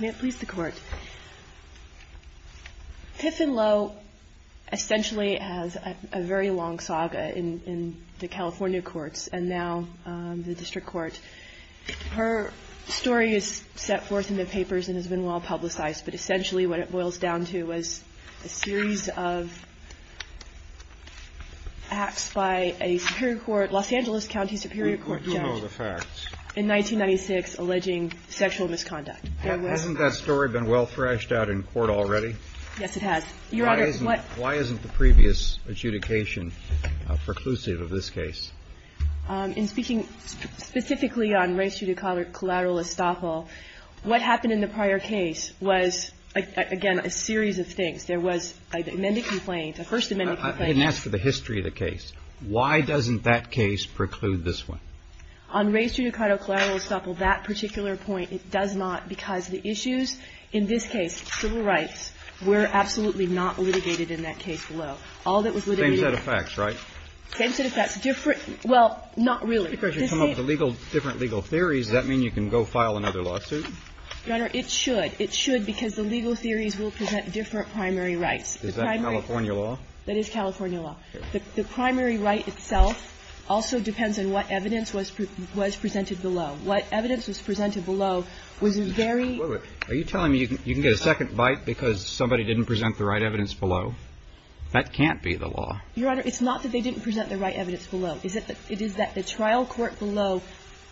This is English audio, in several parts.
May it please the Court. Piff and Lowe essentially has a very long saga in the California courts and now the District Court. Her story is set forth in the papers and has been well publicized, but essentially what it boils down to was a series of acts by a Superior Court, Los Angeles, in 1996 alleging sexual misconduct. Hasn't that story been well thrashed out in court already? Yes, it has. Your Honor, what Why isn't the previous adjudication preclusive of this case? In speaking specifically on race judicata collateral estoppel, what happened in the prior case was, again, a series of things. There was an amended complaint, a First Amendment complaint I didn't ask for the history of the case. Why doesn't that case preclude this one? On race judicata collateral estoppel, that particular point, it does not, because the issues in this case, civil rights, were absolutely not litigated in that case below. All that was litigated Same set of facts, right? Same set of facts. Different – well, not really. If you come up with different legal theories, does that mean you can go file another lawsuit? Your Honor, it should. It should because the legal theories will present different primary rights. Is that California law? That is California law. Okay. The primary right itself also depends on what evidence was presented below. What evidence was presented below was very Are you telling me you can get a second bite because somebody didn't present the right evidence below? That can't be the law. Your Honor, it's not that they didn't present the right evidence below. It is that the trial court below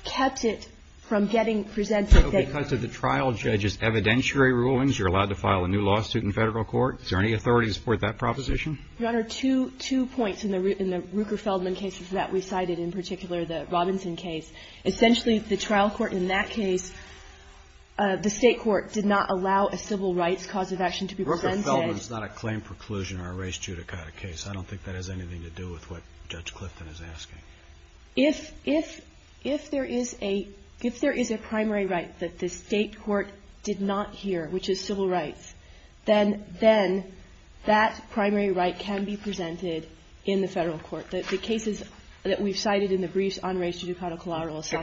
kept it from getting presented that they So because of the trial judge's evidentiary rulings, you're allowed to file a new lawsuit in Federal court? Is there any authority to support that proposition? Your Honor, two points in the Ruker-Feldman cases that we cited, in particular the Robinson case. Essentially, the trial court in that case, the State court did not allow a civil rights cause of action to be presented Ruker-Feldman is not a claim preclusion or a race judicata case. I don't think that has anything to do with what Judge Clifton is asking. If there is a primary right that the State court did not hear, which is civil rights, then that primary right can be presented in the Federal court. The cases that we've cited in the briefs on race judicata collaterals say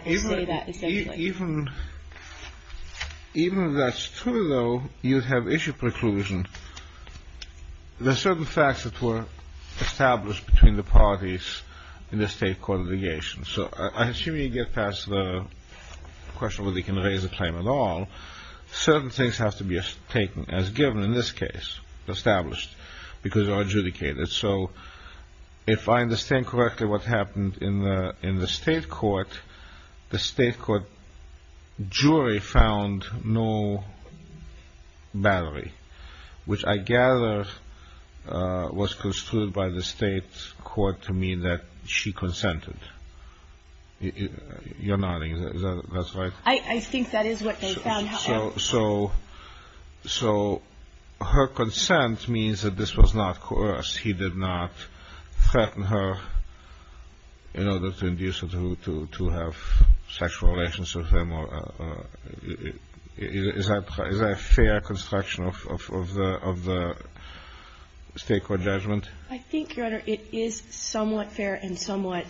that essentially. Even if that's true, though, you'd have issue preclusion. There are certain facts that were established between the parties in the State court litigation. So I assume you get past the question whether you can raise a claim at all. Certain things have to be taken as given in this case, established, because they are adjudicated. So if I understand correctly what happened in the State court, the State court jury found no battery, which I gather was construed by the State court to mean that she consented. You're nodding. Is that right? I think that is what they found. So her consent means that this was not coerced. He did not threaten her in order to induce her to have sexual relations with him. Is that a fair construction of the State court judgment? I think, Your Honor, it is somewhat fair and somewhat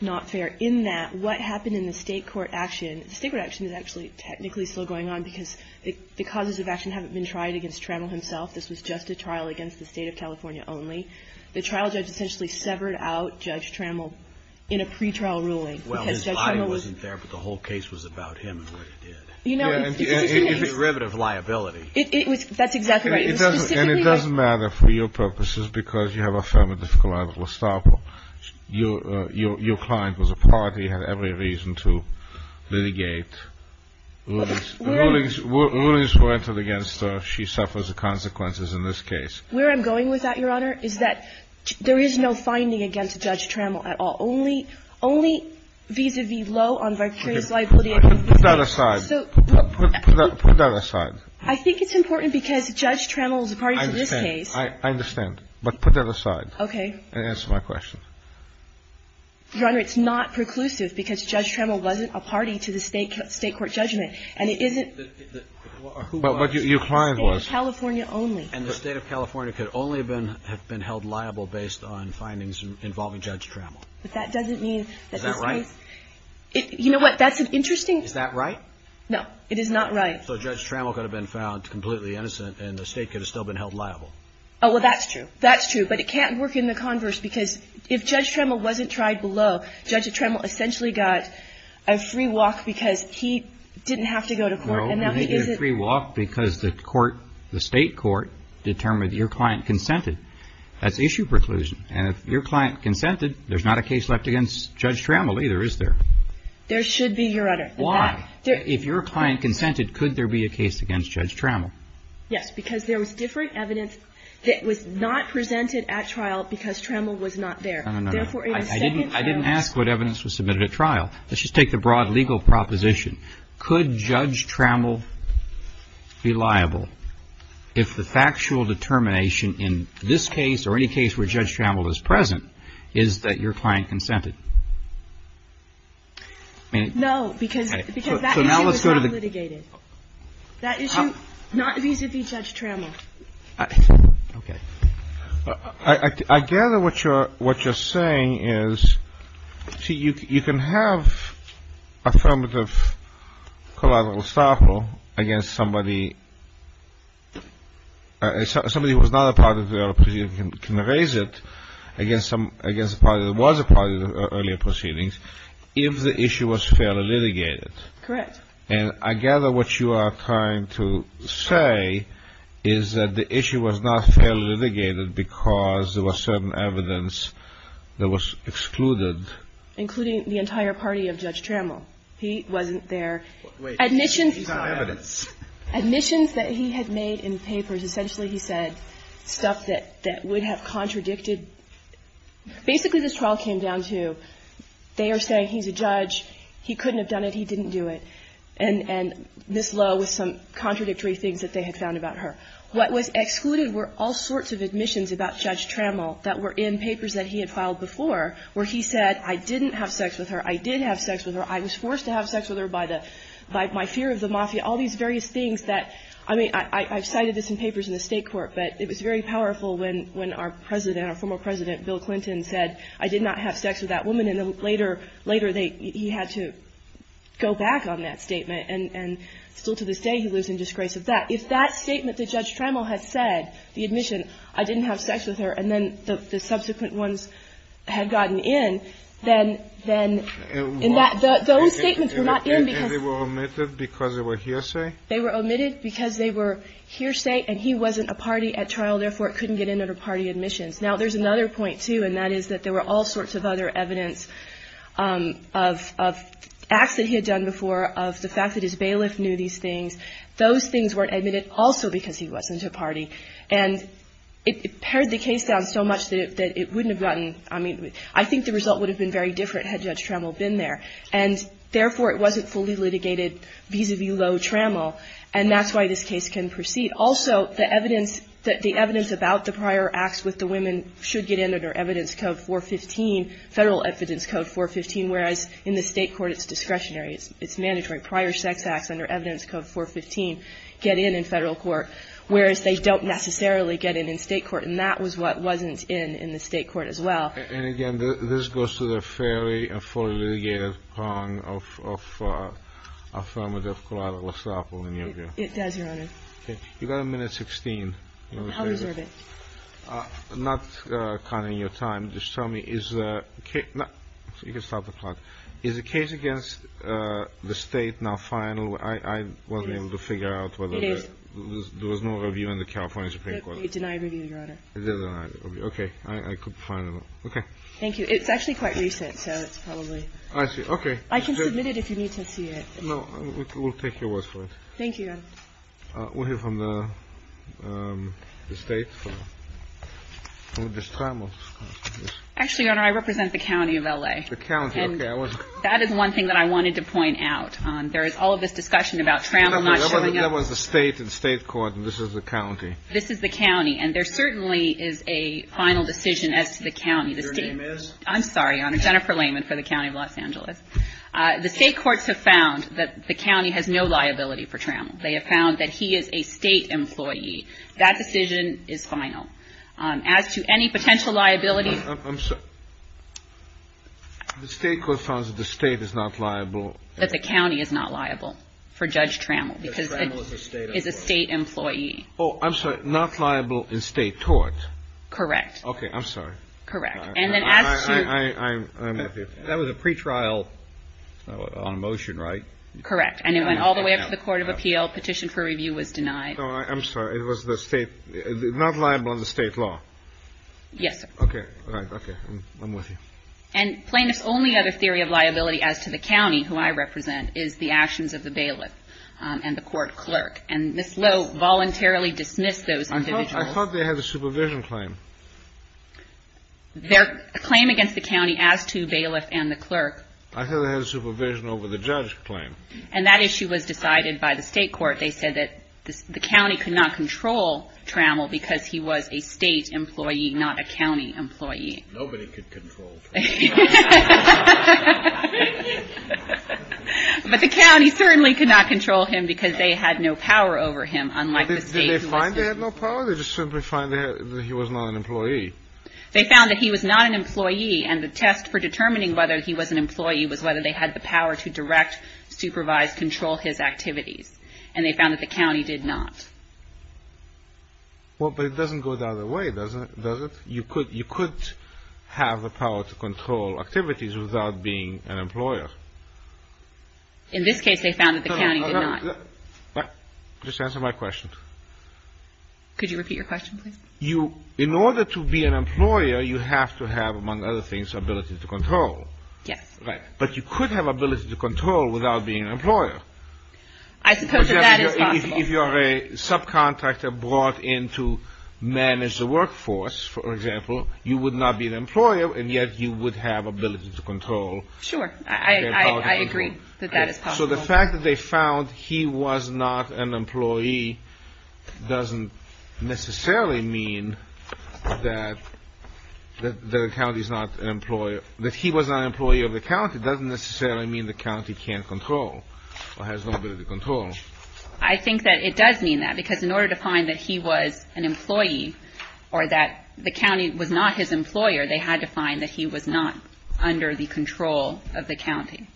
not fair in that what happened in the State court action, the State court action is actually technically still going on, because the causes of action haven't been tried against Trammell himself. This was just a trial against the State of California only. The trial judge essentially severed out Judge Trammell in a pretrial ruling. Well, his body wasn't there, but the whole case was about him and what he did. It's derivative liability. That's exactly right. And it doesn't matter for your purposes, because you have a fairly difficult liable stopper. Your client was a party, had every reason to litigate. Rulings were entered against her. She suffers the consequences in this case. Where I'm going with that, Your Honor, is that there is no finding against Judge Trammell at all, only vis-à-vis low on vicarious liability. Put that aside. Put that aside. I think it's important because Judge Trammell is a party to this case. I understand. But put that aside. Okay. And answer my question. Your Honor, it's not preclusive, because Judge Trammell wasn't a party to the State court judgment. And it isn't. But what your client was. And it's California only. And the State of California could only have been held liable based on findings involving Judge Trammell. But that doesn't mean that this case Is that right? No. It is not right. So Judge Trammell could have been found completely innocent, and the State could have still been held liable. Oh, well, that's true. That's true. But it can't work in the converse, because if Judge Trammell wasn't tried below, Judge Trammell essentially got a free walk because he didn't have to go to court. No, he didn't get a free walk because the court, the State court, determined your client consented. That's issue preclusion. And if your client consented, there's not a case left against Judge Trammell either, is there? There should be, Your Honor. Why? If your client consented, could there be a case against Judge Trammell? Yes, because there was different evidence that was not presented at trial because Trammell was not there. No, no, no. I didn't ask what evidence was submitted at trial. Let's just take the broad legal proposition. Could Judge Trammell be liable if the factual determination in this case or any case where Judge Trammell is present is that your client consented? No, because that issue is not litigated. That issue is not vis-a-vis Judge Trammell. Okay. I gather what you're saying is, see, you can have affirmative collateral estoppel against somebody, somebody who was not a part of the earlier proceedings can raise it against a party that was a part of the earlier proceedings if the issue was fairly litigated. Correct. And I gather what you are trying to say is that the issue was not fairly litigated because there was certain evidence that was excluded. Including the entire party of Judge Trammell. He wasn't there. Wait. He's on evidence. Admissions that he had made in papers. Essentially, he said stuff that would have contradicted. Basically, this trial came down to they are saying he's a judge. He couldn't have done it. He didn't do it. And this law was some contradictory things that they had found about her. What was excluded were all sorts of admissions about Judge Trammell that were in papers that he had filed before where he said I didn't have sex with her. I did have sex with her. I was forced to have sex with her by my fear of the mafia. All these various things that, I mean, I've cited this in papers in the State court, but it was very powerful when our President, our former President Bill Clinton, said I did not have sex with that woman. And later he had to go back on that statement. And still to this day he lives in disgrace of that. If that statement that Judge Trammell had said, the admission, I didn't have sex with her, and then the subsequent ones had gotten in, then those statements were not in because they were omitted because they were hearsay. They were omitted because they were hearsay and he wasn't a party at trial. Therefore, it couldn't get in under party admissions. Now, there's another point, too, and that is that there were all sorts of other evidence of acts that he had done before of the fact that his bailiff knew these things. Those things weren't admitted also because he wasn't a party. And it pared the case down so much that it wouldn't have gotten. I mean, I think the result would have been very different had Judge Trammell been there. And therefore, it wasn't fully litigated vis-à-vis Lowe-Trammell. And that's why this case can proceed. Also, the evidence that the evidence about the prior acts with the women should get in under Evidence Code 415, Federal Evidence Code 415, whereas in the State Court it's discretionary, it's mandatory. Prior sex acts under Evidence Code 415 get in in Federal court, whereas they don't necessarily get in in State court. And that was what wasn't in in the State court as well. And again, this goes to the fairly and fully litigated prong of affirmative collateral estoppel in your view. It does, Your Honor. Okay. You've got a minute 16. I'll reserve it. Not counting your time. Just tell me, is the case – you can stop the clock. Is the case against the State now final? I wasn't able to figure out whether there was no review in the California Supreme Court. It denied review, Your Honor. It did deny review. Okay. I could find it. Okay. Thank you. It's actually quite recent, so it's probably – I see. Okay. I can submit it if you need to see it. No. We'll take your word for it. Thank you, Your Honor. We'll hear from the State. Actually, Your Honor, I represent the county of L.A. The county. Okay. That is one thing that I wanted to point out. There is all of this discussion about Trammell not showing up. That was the State and State court, and this is the county. This is the county. And there certainly is a final decision as to the county. Your name is? I'm sorry, Your Honor. Jennifer Layman for the county of Los Angeles. The State courts have found that the county has no liability for Trammell. They have found that he is a State employee. That decision is final. As to any potential liability – I'm sorry. The State court found that the State is not liable. That the county is not liable for Judge Trammell because it is a State employee. Oh, I'm sorry. And not liable in State court. Correct. Okay. I'm sorry. Correct. And then as to – I'm with you. That was a pretrial on motion, right? Correct. And it went all the way up to the Court of Appeal. Petition for review was denied. I'm sorry. It was the State – not liable under State law. Yes, sir. Okay. All right. Okay. I'm with you. And plaintiff's only other theory of liability as to the county, who I represent, is the actions of the bailiff and the court clerk. And Ms. Lowe voluntarily dismissed those individuals. I thought they had a supervision claim. Their claim against the county as to bailiff and the clerk – I thought they had a supervision over the judge claim. And that issue was decided by the State court. They said that the county could not control Trammell because he was a State employee, not a county employee. Nobody could control Trammell. But the county certainly could not control him because they had no power over him, unlike the State. Did they find they had no power, or did they just simply find that he was not an employee? They found that he was not an employee, and the test for determining whether he was an employee was whether they had the power to direct, supervise, control his activities. And they found that the county did not. Well, but it doesn't go the other way, does it? You could have the power to control Trammell, without being an employer. In this case, they found that the county did not. Just answer my question. Could you repeat your question, please? In order to be an employer, you have to have, among other things, ability to control. Yes. But you could have ability to control without being an employer. I suppose that is possible. If you are a subcontractor brought in to manage the workforce, for example, you would not be an employer, and yet you would have ability to control. Sure. I agree that that is possible. So the fact that they found he was not an employee doesn't necessarily mean that the county is not an employer. That he was not an employee of the county doesn't necessarily mean the county can't control, or has no ability to control. I think that it does mean that, because in order to find that he was an employee, or that the county was not his employer, they had to find that he was not under the control of the county.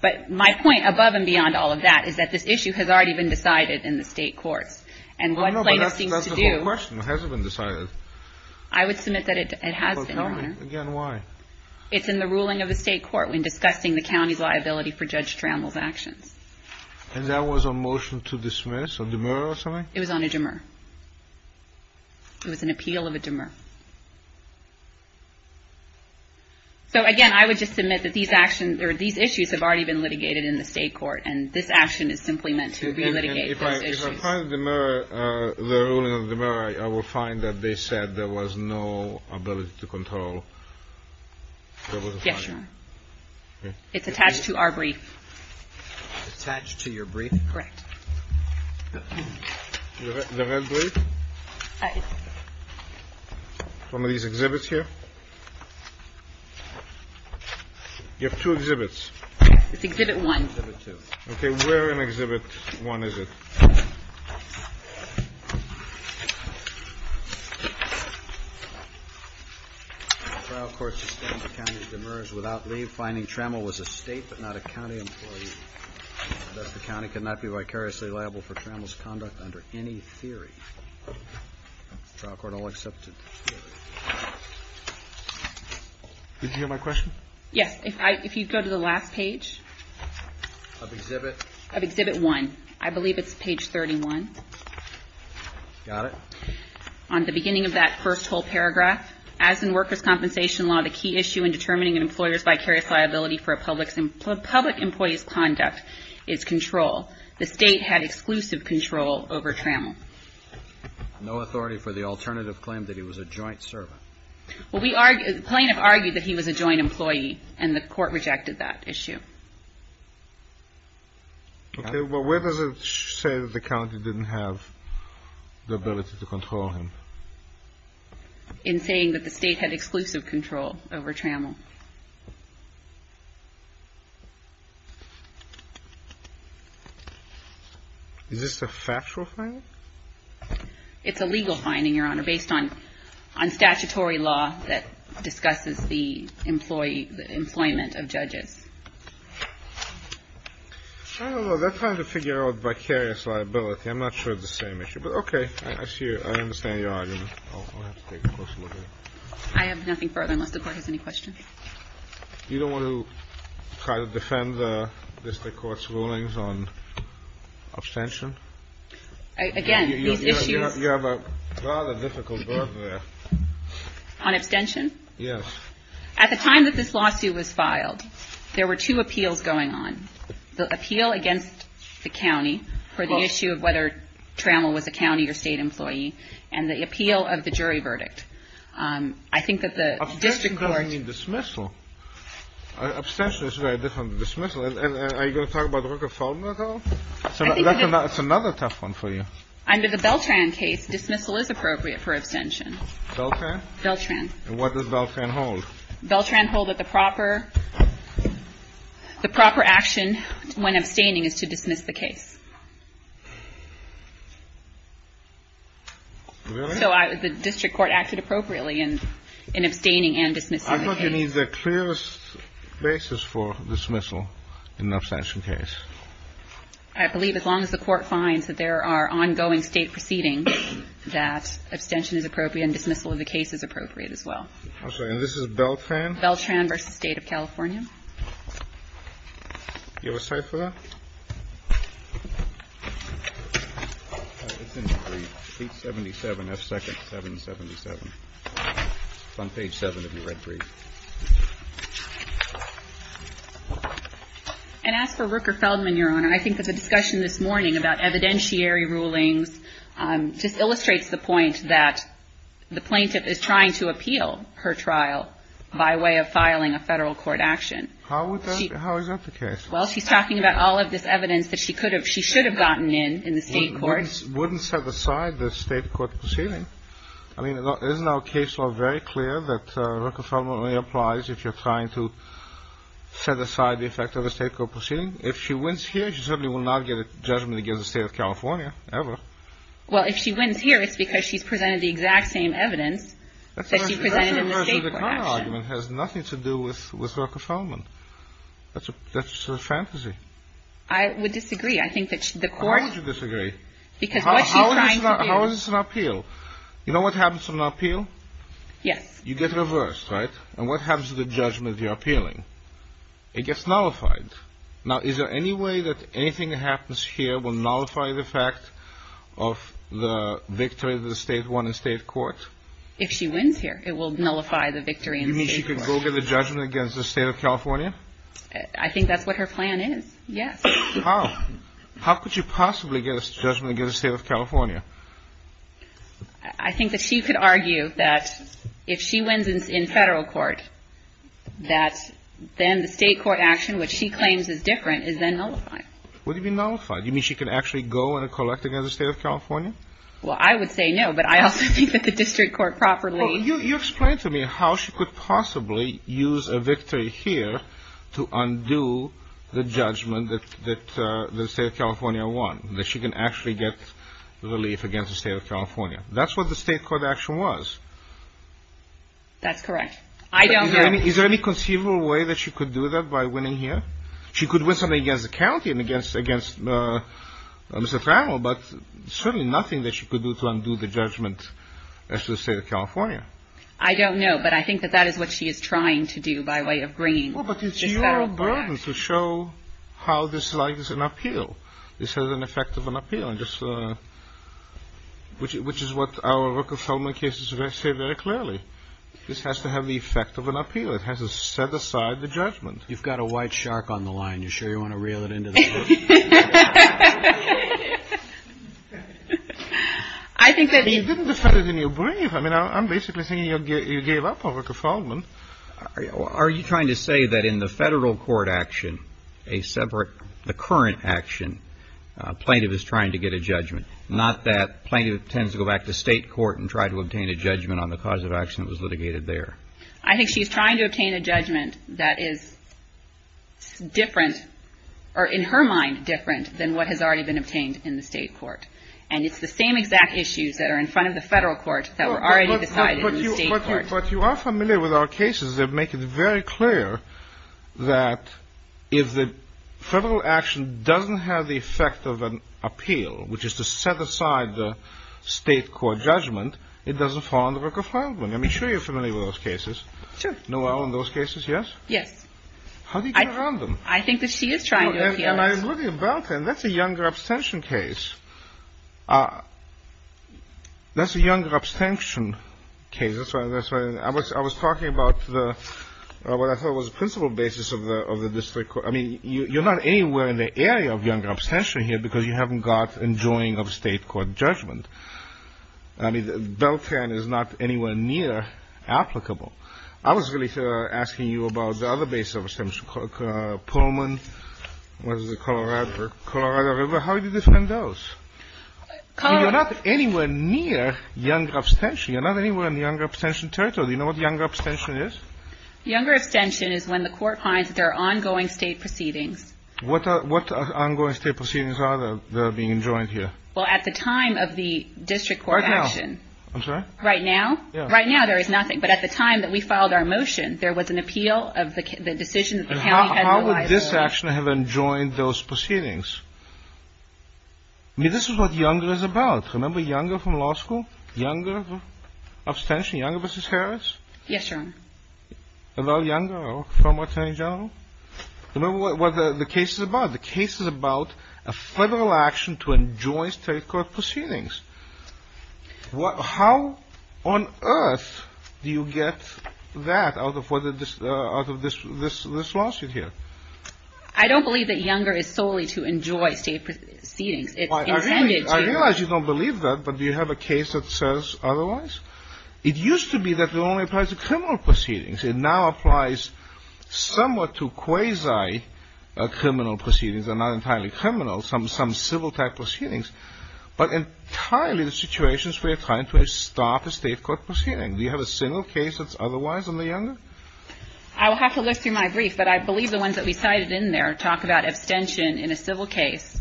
But my point above and beyond all of that is that this issue has already been decided in the state courts, and what plaintiffs seem to do. No, no, but that's the whole question. It hasn't been decided. I would submit that it has been, Your Honor. Well, tell me again why. It's in the ruling of the state court when discussing the county's liability for Judge Trammell's actions. And that was a motion to dismiss, a demur or something? It was on a demur. It was an appeal of a demur. So, again, I would just submit that these actions, or these issues, have already been litigated in the state court, and this action is simply meant to relitigate those issues. If I find the ruling of the demur, I will find that they said there was no ability to control. Yes, Your Honor. It's attached to our brief. It's attached to your brief? Correct. The red brief? One of these exhibits here? You have two exhibits. It's exhibit one. Okay, where in exhibit one is it? The trial court sustained the county's demurs without leave, finding Trammell was a state but not a county employee. Thus, the county could not be vicariously liable for Trammell's conduct under any theory. The trial court all accepted. Did you hear my question? Yes. If you go to the last page. Of exhibit? Of exhibit one. I believe it's page 31. Got it. On the beginning of that first whole paragraph, as in workers' compensation law, the key issue in determining an employer's vicarious liability for a public employee's conduct is control. The state had exclusive control over Trammell. No authority for the alternative claim that he was a joint servant. Well, the plaintiff argued that he was a joint employee, and the court rejected that issue. Okay. Well, where does it say that the county didn't have the ability to control him? In saying that the state had exclusive control over Trammell. Is this a factual finding? It's a legal finding, Your Honor, based on statutory law that discusses the employment of judges. I don't know. They're trying to figure out vicarious liability. I'm not sure it's the same issue. But, okay. I see. I understand your argument. I'll have to take a closer look at it. I have nothing further, unless the Court has any questions. You don't want to try to defend the district court's rulings on abstention? Again, these issues. You have a rather difficult word there. On abstention? Yes. At the time that this lawsuit was filed, there were two appeals going on. The appeal against the county for the issue of whether Trammell was a county or state employee, and the appeal of the jury verdict. I think that the district court ---- Abstention doesn't mean dismissal. Abstention is very different than dismissal. Are you going to talk about Rooker-Feldman at all? That's another tough one for you. Under the Beltran case, dismissal is appropriate for abstention. Beltran? Beltran. And what does Beltran hold? Beltran holds that the proper action when abstaining is to dismiss the case. Really? So the district court acted appropriately in abstaining and dismissing the case. I thought you mean the clearest basis for dismissal in an abstention case. I believe as long as the Court finds that there are ongoing state proceedings, that abstention is appropriate and dismissal of the case is appropriate as well. I'm sorry. And this is Beltran? Beltran v. State of California. Do you have a cipher? It's in the brief. Page 77, F. Second, 777. It's on page 7 of your red brief. And as for Rooker-Feldman, Your Honor, I think that the discussion this morning about evidentiary rulings just illustrates the point that the plaintiff is trying to appeal her trial by way of filing a federal court action. How is that the case? Well, she's talking about all of this evidence that she should have gotten in in the state court. Wouldn't set aside the state court proceeding. I mean, isn't our case law very clear that Rooker-Feldman only applies if you're trying to set aside the effect of a state court proceeding? If she wins here, she certainly will not get a judgment against the State of California, ever. Well, if she wins here, it's because she's presented the exact same evidence that she presented in the state court action. That's the reverse of the counterargument. It has nothing to do with Rooker-Feldman. That's just a fantasy. I would disagree. I think that the court — How would you disagree? Because what she's trying to do — How is this an appeal? You know what happens to an appeal? Yes. You get reversed, right? And what happens to the judgment you're appealing? It gets nullified. Now, is there any way that anything that happens here will nullify the fact of the victory of the State won in state court? If she wins here, it will nullify the victory in state court. You mean she could go get a judgment against the State of California? I think that's what her plan is, yes. How? How could she possibly get a judgment against the State of California? I think that she could argue that if she wins in federal court, that then the state court action, which she claims is different, is then nullified. What do you mean nullified? Do you mean she could actually go and collect against the State of California? Well, I would say no, but I also think that the district court properly — Well, you explain to me how she could possibly use a victory here to undo the judgment that the State of California won, that she can actually get relief against the State of California. That's what the state court action was. That's correct. I don't know. Is there any conceivable way that she could do that by winning here? She could win something against the county and against Mr. Farrell, but certainly nothing that she could do to undo the judgment against the State of California. I don't know, but I think that that is what she is trying to do by way of bringing this federal court action. Well, but it's your burden to show how this is an appeal. This has an effect of an appeal, which is what our Rooker-Fullman cases say very clearly. This has to have the effect of an appeal. It has to set aside the judgment. You've got a white shark on the line. Are you sure you want to reel it in? You didn't defend it in your brief. I mean, I'm basically saying you gave up on Rooker-Fullman. Are you trying to say that in the federal court action, a separate, the current action, plaintiff is trying to get a judgment, not that plaintiff tends to go back to state court and try to obtain a judgment on the cause of action that was litigated there? I think she's trying to obtain a judgment that is different, or in her mind, different than what has already been obtained in the state court. And it's the same exact issues that are in front of the federal court that were already decided in the state court. But you are familiar with our cases that make it very clear that if the federal action doesn't have the effect of an appeal, which is to set aside the state court judgment, it doesn't fall under Rooker-Fullman. I mean, I'm sure you're familiar with those cases. Sure. Noel in those cases, yes? Yes. How do you get around them? I think that she is trying to appeal it. I'm looking at Beltan. That's a younger abstention case. That's a younger abstention case. I was talking about what I thought was the principle basis of the district court. I mean, you're not anywhere in the area of younger abstention here because you haven't got enjoying of state court judgment. I mean, Beltan is not anywhere near applicable. I was really asking you about the other base of abstention, Pullman, what is it, Colorado River. How do you defend those? You're not anywhere near younger abstention. You're not anywhere in the younger abstention territory. Do you know what younger abstention is? Younger abstention is when the court finds that there are ongoing state proceedings. What ongoing state proceedings are that are being enjoined here? Well, at the time of the district court action. Right now. I'm sorry? Right now? Right now, there is nothing. But at the time that we filed our motion, there was an appeal of the decision that the county had no liability. How would this action have enjoined those proceedings? I mean, this is what younger is about. Remember younger from law school? Younger abstention? Younger v. Harris? Yes, Your Honor. A lot younger from attorney general? Remember what the case is about. The case is about a federal action to enjoin state court proceedings. How on earth do you get that out of this lawsuit here? I don't believe that younger is solely to enjoy state proceedings. It's intended to. I realize you don't believe that, but do you have a case that says otherwise? It used to be that it only applies to criminal proceedings. It now applies somewhat to quasi-criminal proceedings. They're not entirely criminal. Some civil type proceedings. But entirely the situations where you're trying to stop a state court proceeding. Do you have a single case that's otherwise on the younger? I will have to look through my brief, but I believe the ones that we cited in there talk about abstention in a civil case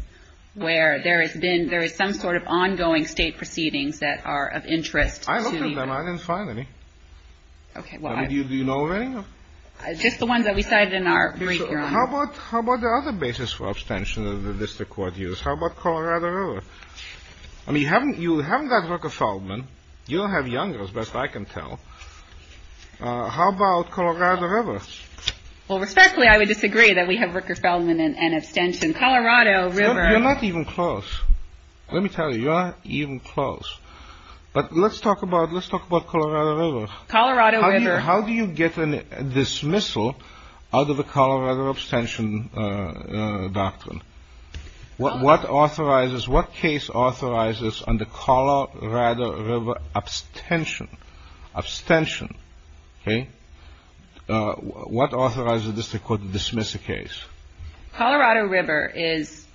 where there has been some sort of ongoing state proceedings that are of interest to younger. I looked at them. I didn't find any. Okay. Do you know of any? Just the ones that we cited in our brief, Your Honor. How about the other basis for abstention that the district court used? How about Colorado River? I mean, you haven't got Rooker-Feldman. You don't have younger, as best I can tell. How about Colorado River? Well, respectfully, I would disagree that we have Rooker-Feldman and abstention. Colorado River. You're not even close. Let me tell you, you're not even close. But let's talk about Colorado River. Colorado River. How do you get a dismissal out of the Colorado abstention doctrine? What authorizes, what case authorizes on the Colorado River abstention, abstention? Okay. What authorizes the district court to dismiss a case? Colorado River is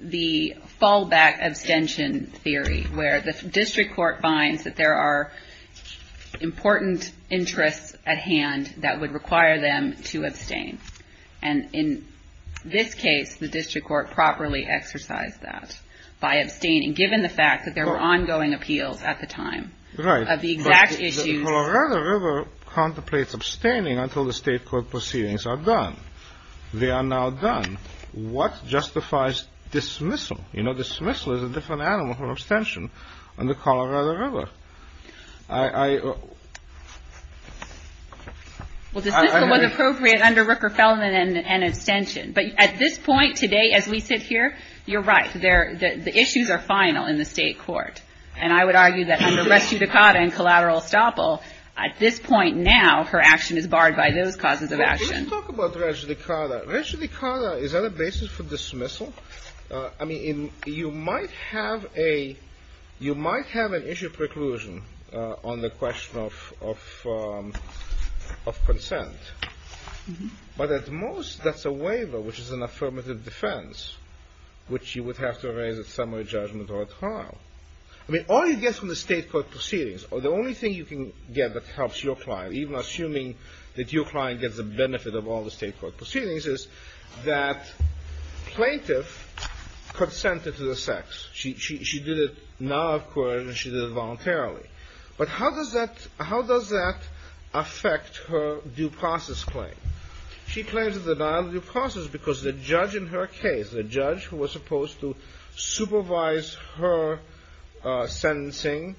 the fallback abstention theory where the district court finds that there are important interests at hand that would require them to abstain. And in this case, the district court properly exercised that by abstaining, given the fact that there were ongoing appeals at the time of the exact issues. Right. But the Colorado River contemplates abstaining until the state court proceedings are done. They are now done. What justifies dismissal? You know, dismissal is a different animal from abstention on the Colorado River. Well, dismissal was appropriate under Rooker-Feldman and abstention. But at this point today, as we sit here, you're right. The issues are final in the state court. And I would argue that under res judicata and collateral estoppel, at this point now, her action is barred by those causes of action. Let's talk about res judicata. Res judicata, is that a basis for dismissal? I mean, you might have an issue preclusion on the question of consent. But at most, that's a waiver, which is an affirmative defense, which you would have to raise at summary judgment or at trial. I mean, all you get from the state court proceedings, or the only thing you can get that helps your client, even assuming that your client gets the benefit of all the state court proceedings, is that plaintiff consented to the sex. She did it now, of course, and she did it voluntarily. But how does that affect her due process claim? She claims a denial of due process because the judge in her case, the judge who was supposed to supervise her sentencing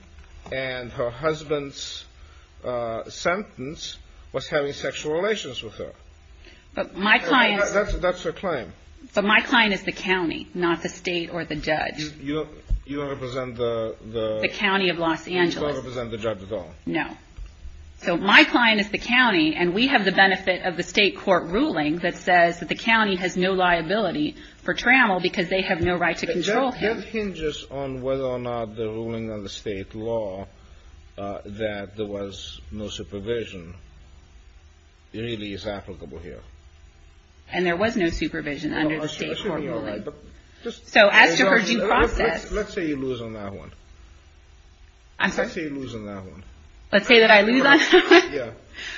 and her husband's sentence was having sexual relations with her. But my client... That's her claim. But my client is the county, not the state or the judge. You don't represent the... The county of Los Angeles. You don't represent the judge at all. No. So my client is the county, and we have the benefit of the state court ruling that says that the county has no liability for trammel because they have no right to control him. That hinges on whether or not the ruling of the state law that there was no supervision really is applicable here. And there was no supervision under the state court ruling. So as to her due process... Let's say you lose on that one. I'm sorry? Let's say you lose on that one. Let's say that I lose on that one? Yeah.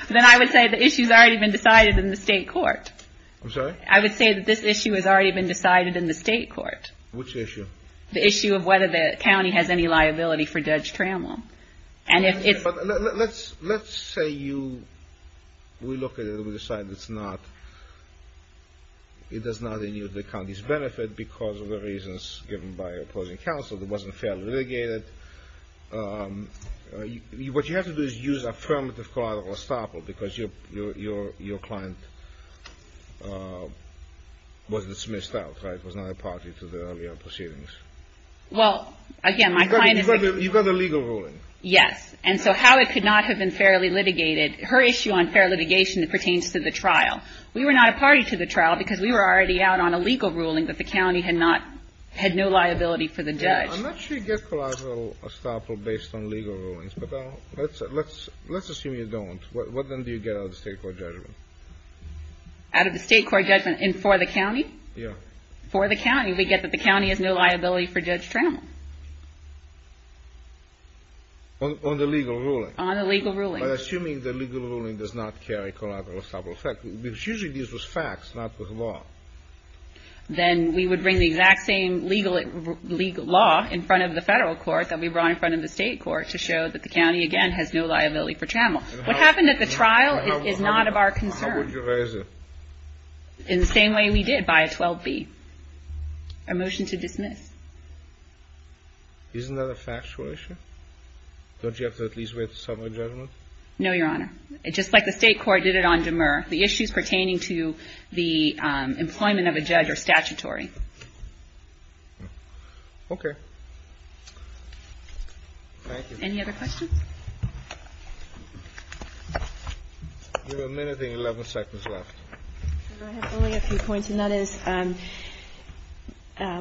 Then I would say the issue's already been decided in the state court. I'm sorry? I would say that this issue has already been decided in the state court. Which issue? The issue of whether the county has any liability for judge trammel. And if it's... Let's say you... We look at it and we decide it's not... It does not endure the county's benefit because of the reasons given by opposing counsel. It wasn't fairly litigated. What you have to do is use affirmative collateral estoppel because your client was dismissed out, right? Yes. And so how it could not have been fairly litigated, her issue on fair litigation pertains to the trial. We were not a party to the trial because we were already out on a legal ruling that the county had not, had no liability for the judge. I'm not sure you get collateral estoppel based on legal rulings, but let's assume you don't. What then do you get out of the state court judgment? Out of the state court judgment and for the county? Yeah. For the county, we get that the county has no liability for judge trammel. On the legal ruling? On the legal ruling. But assuming the legal ruling does not carry collateral estoppel effect, because usually this was facts, not with law. Then we would bring the exact same legal law in front of the federal court that we brought in front of the state court to show that the county, again, has no liability for trammel. What happened at the trial is not of our concern. How would you raise it? In the same way we did by a 12B. A motion to dismiss. Isn't that a factual issue? Don't you have to at least write a summary judgment? No, Your Honor. Just like the state court did it on Demer. The issues pertaining to the employment of a judge are statutory. Okay. Thank you. Any other questions? You have a minute and 11 seconds left. I have only a few points. And that is,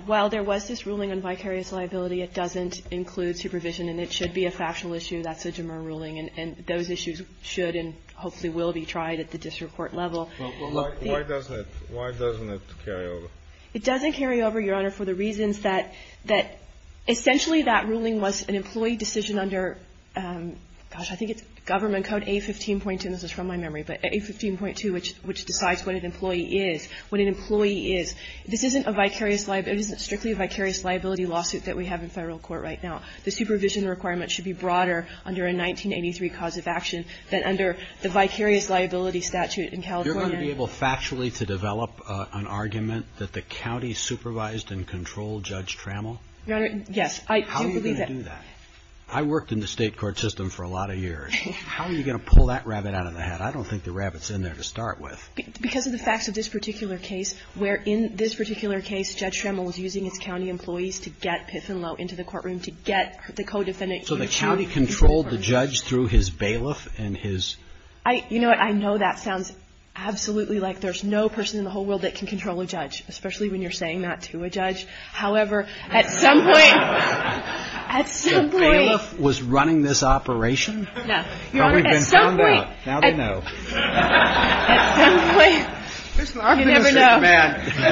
while there was this ruling on vicarious liability, it doesn't include supervision, and it should be a factual issue. That's a Demer ruling. And those issues should and hopefully will be tried at the district court level. Why doesn't it? Why doesn't it carry over? It doesn't carry over, Your Honor, for the reasons that essentially that ruling was an employee decision under, gosh, I think it's government code A15.2. This is from my memory. But A15.2, which decides what an employee is. What an employee is. This isn't a vicarious liability. It isn't strictly a vicarious liability lawsuit that we have in federal court right now. The supervision requirement should be broader under a 1983 cause of action than under the vicarious liability statute in California. You're going to be able factually to develop an argument that the county supervised and controlled Judge Trammell? Your Honor, yes. How are you going to do that? I worked in the state court system for a lot of years. How are you going to pull that rabbit out of the hat? I don't think the rabbit's in there to start with. Because of the facts of this particular case, where in this particular case, Judge Trammell was using his county employees to get Piff and Lowe into the courtroom to get the co-defendant. So the county controlled the judge through his bailiff and his? You know what? I know that sounds absolutely like there's no person in the whole world that can control a judge, especially when you're saying that to a judge. However, at some point, at some point. The bailiff was running this operation? Your Honor, at some point. Well, we've been found out. Now they know. At some point. You never know. I've been a state man. Your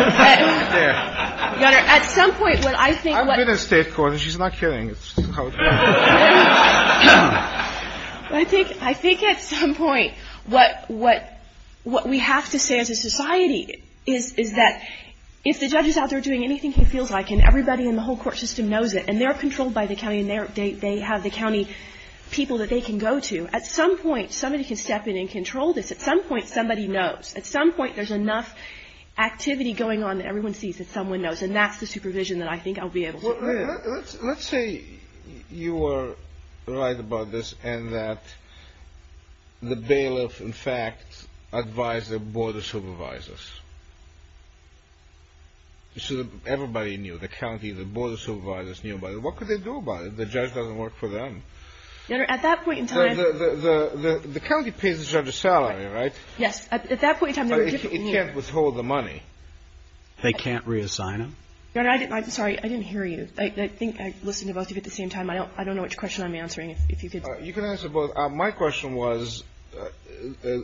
Honor, at some point when I think what. I've been in state court. She's not kidding. I think at some point what we have to say as a society is that if the judge is out there doing anything he feels like, and everybody in the whole court system knows it, and they're controlled by the county, and they have the county people that they can go to. At some point, somebody can step in and control this. At some point, somebody knows. At some point, there's enough activity going on that everyone sees that someone knows, and that's the supervision that I think I'll be able to do. Let's say you are right about this and that the bailiff, in fact, advised the board of supervisors. Everybody knew. The county, the board of supervisors knew about it. What could they do about it? The judge doesn't work for them. Your Honor, at that point in time. The county pays the judge a salary, right? Yes. At that point in time. But it can't withhold the money. They can't reassign him? Your Honor, I'm sorry. I didn't hear you. I think I listened to both of you at the same time. I don't know which question I'm answering. If you could. You can answer both. My question was,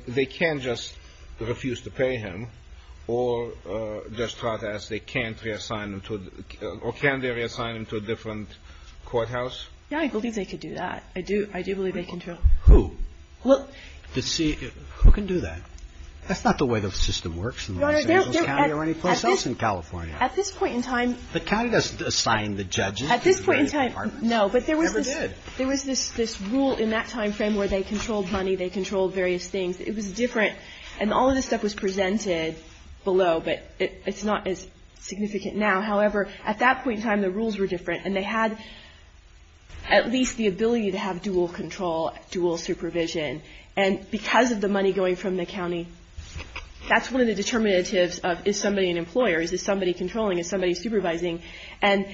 they can't just refuse to pay him or just protest. They can't reassign him to a different courthouse? Yeah, I believe they could do that. I do believe they can. Who? Who can do that? That's not the way the system works in Los Angeles County or anyplace else in California. At this point in time. The county doesn't assign the judges. At this point in time, no. It never did. There was this rule in that time frame where they controlled money, they controlled various things. It was different. And all of this stuff was presented below. But it's not as significant now. However, at that point in time, the rules were different. And they had at least the ability to have dual control, dual supervision. And because of the money going from the county, that's one of the determinatives of is somebody an employer? Is this somebody controlling? Is somebody supervising? And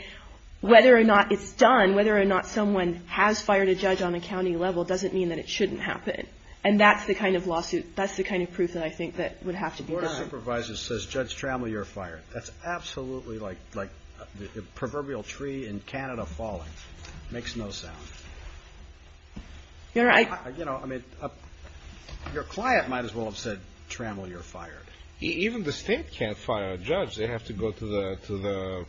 whether or not it's done, whether or not someone has fired a judge on a county level doesn't mean that it shouldn't happen. And that's the kind of lawsuit. That's the kind of proof that I think that would have to be. The Board of Supervisors says, Judge Trammell, you're fired. That's absolutely like the proverbial tree in Canada falling. Makes no sound. Your client might as well have said, Trammell, you're fired. Even the state can't fire a judge. They have to go to the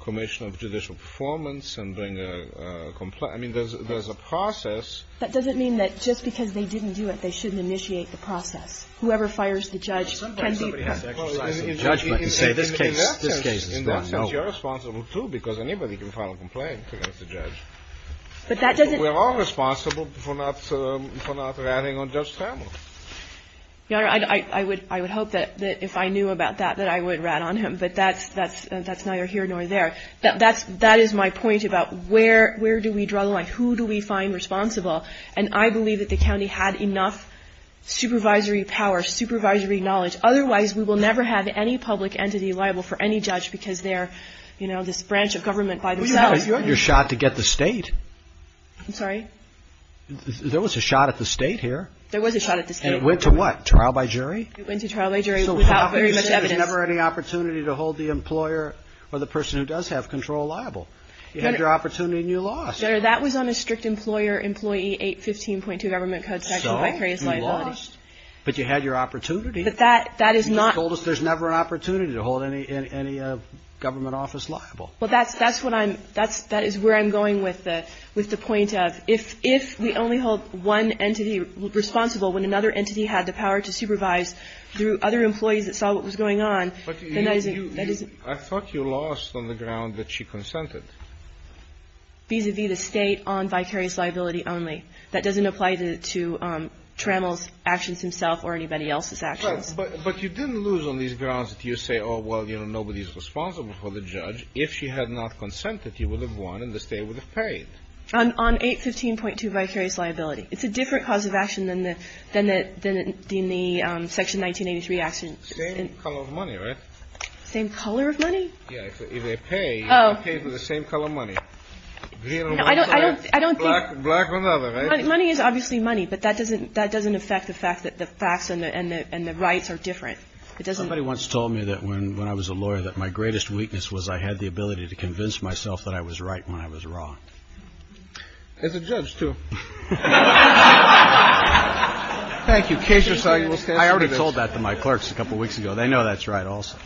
commission of judicial performance and bring a complaint. I mean, there's a process. That doesn't mean that just because they didn't do it, they shouldn't initiate the process. Whoever fires the judge can be. In that sense, you're responsible, too, because anybody can file a complaint against a judge. But that doesn't. We're all responsible for not ratting on Judge Trammell. Your Honor, I would hope that if I knew about that, that I would rat on him. But that's neither here nor there. That is my point about where do we draw the line? Who do we find responsible? And I believe that the county had enough supervisory power, supervisory knowledge. Otherwise, we will never have any public entity liable for any judge because they're, you know, this branch of government by themselves. Well, you had your shot to get the state. I'm sorry? There was a shot at the state here. There was a shot at the state. And it went to what? Trial by jury? It went to trial by jury without very much evidence. There's never any opportunity to hold the employer or the person who does have control liable. You had your opportunity and you lost. Your Honor, that was on a strict employer employee 815.2 government code section. So? You lost. But you had your opportunity. But that is not. You told us there's never an opportunity to hold any government office liable. Well, that's what I'm – that is where I'm going with the point of if we only hold one entity responsible when another entity had the power to supervise through other employees that saw what was going on, then that isn't. I thought you lost on the ground that she consented. Vis-a-vis the state on vicarious liability only. That doesn't apply to Trammell's actions himself or anybody else's actions. But you didn't lose on these grounds that you say, oh, well, you know, nobody's responsible for the judge. If she had not consented, you would have won and the state would have paid. On 815.2 vicarious liability. It's a different cause of action than the – than the – than the section 1983 action. Same color of money, right? Same color of money? Yeah. If they pay, they pay for the same color money. I don't – I don't think – Black or another, right? Money is obviously money, but that doesn't – that doesn't affect the fact that the facts and the rights are different. It doesn't. Somebody once told me that when I was a lawyer that my greatest weakness was I had the ability to convince myself that I was right when I was wrong. As a judge, too. Thank you. Case yourself. I already told that to my clerks a couple weeks ago. They know that's right also.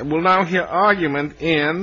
We'll now hear argument in.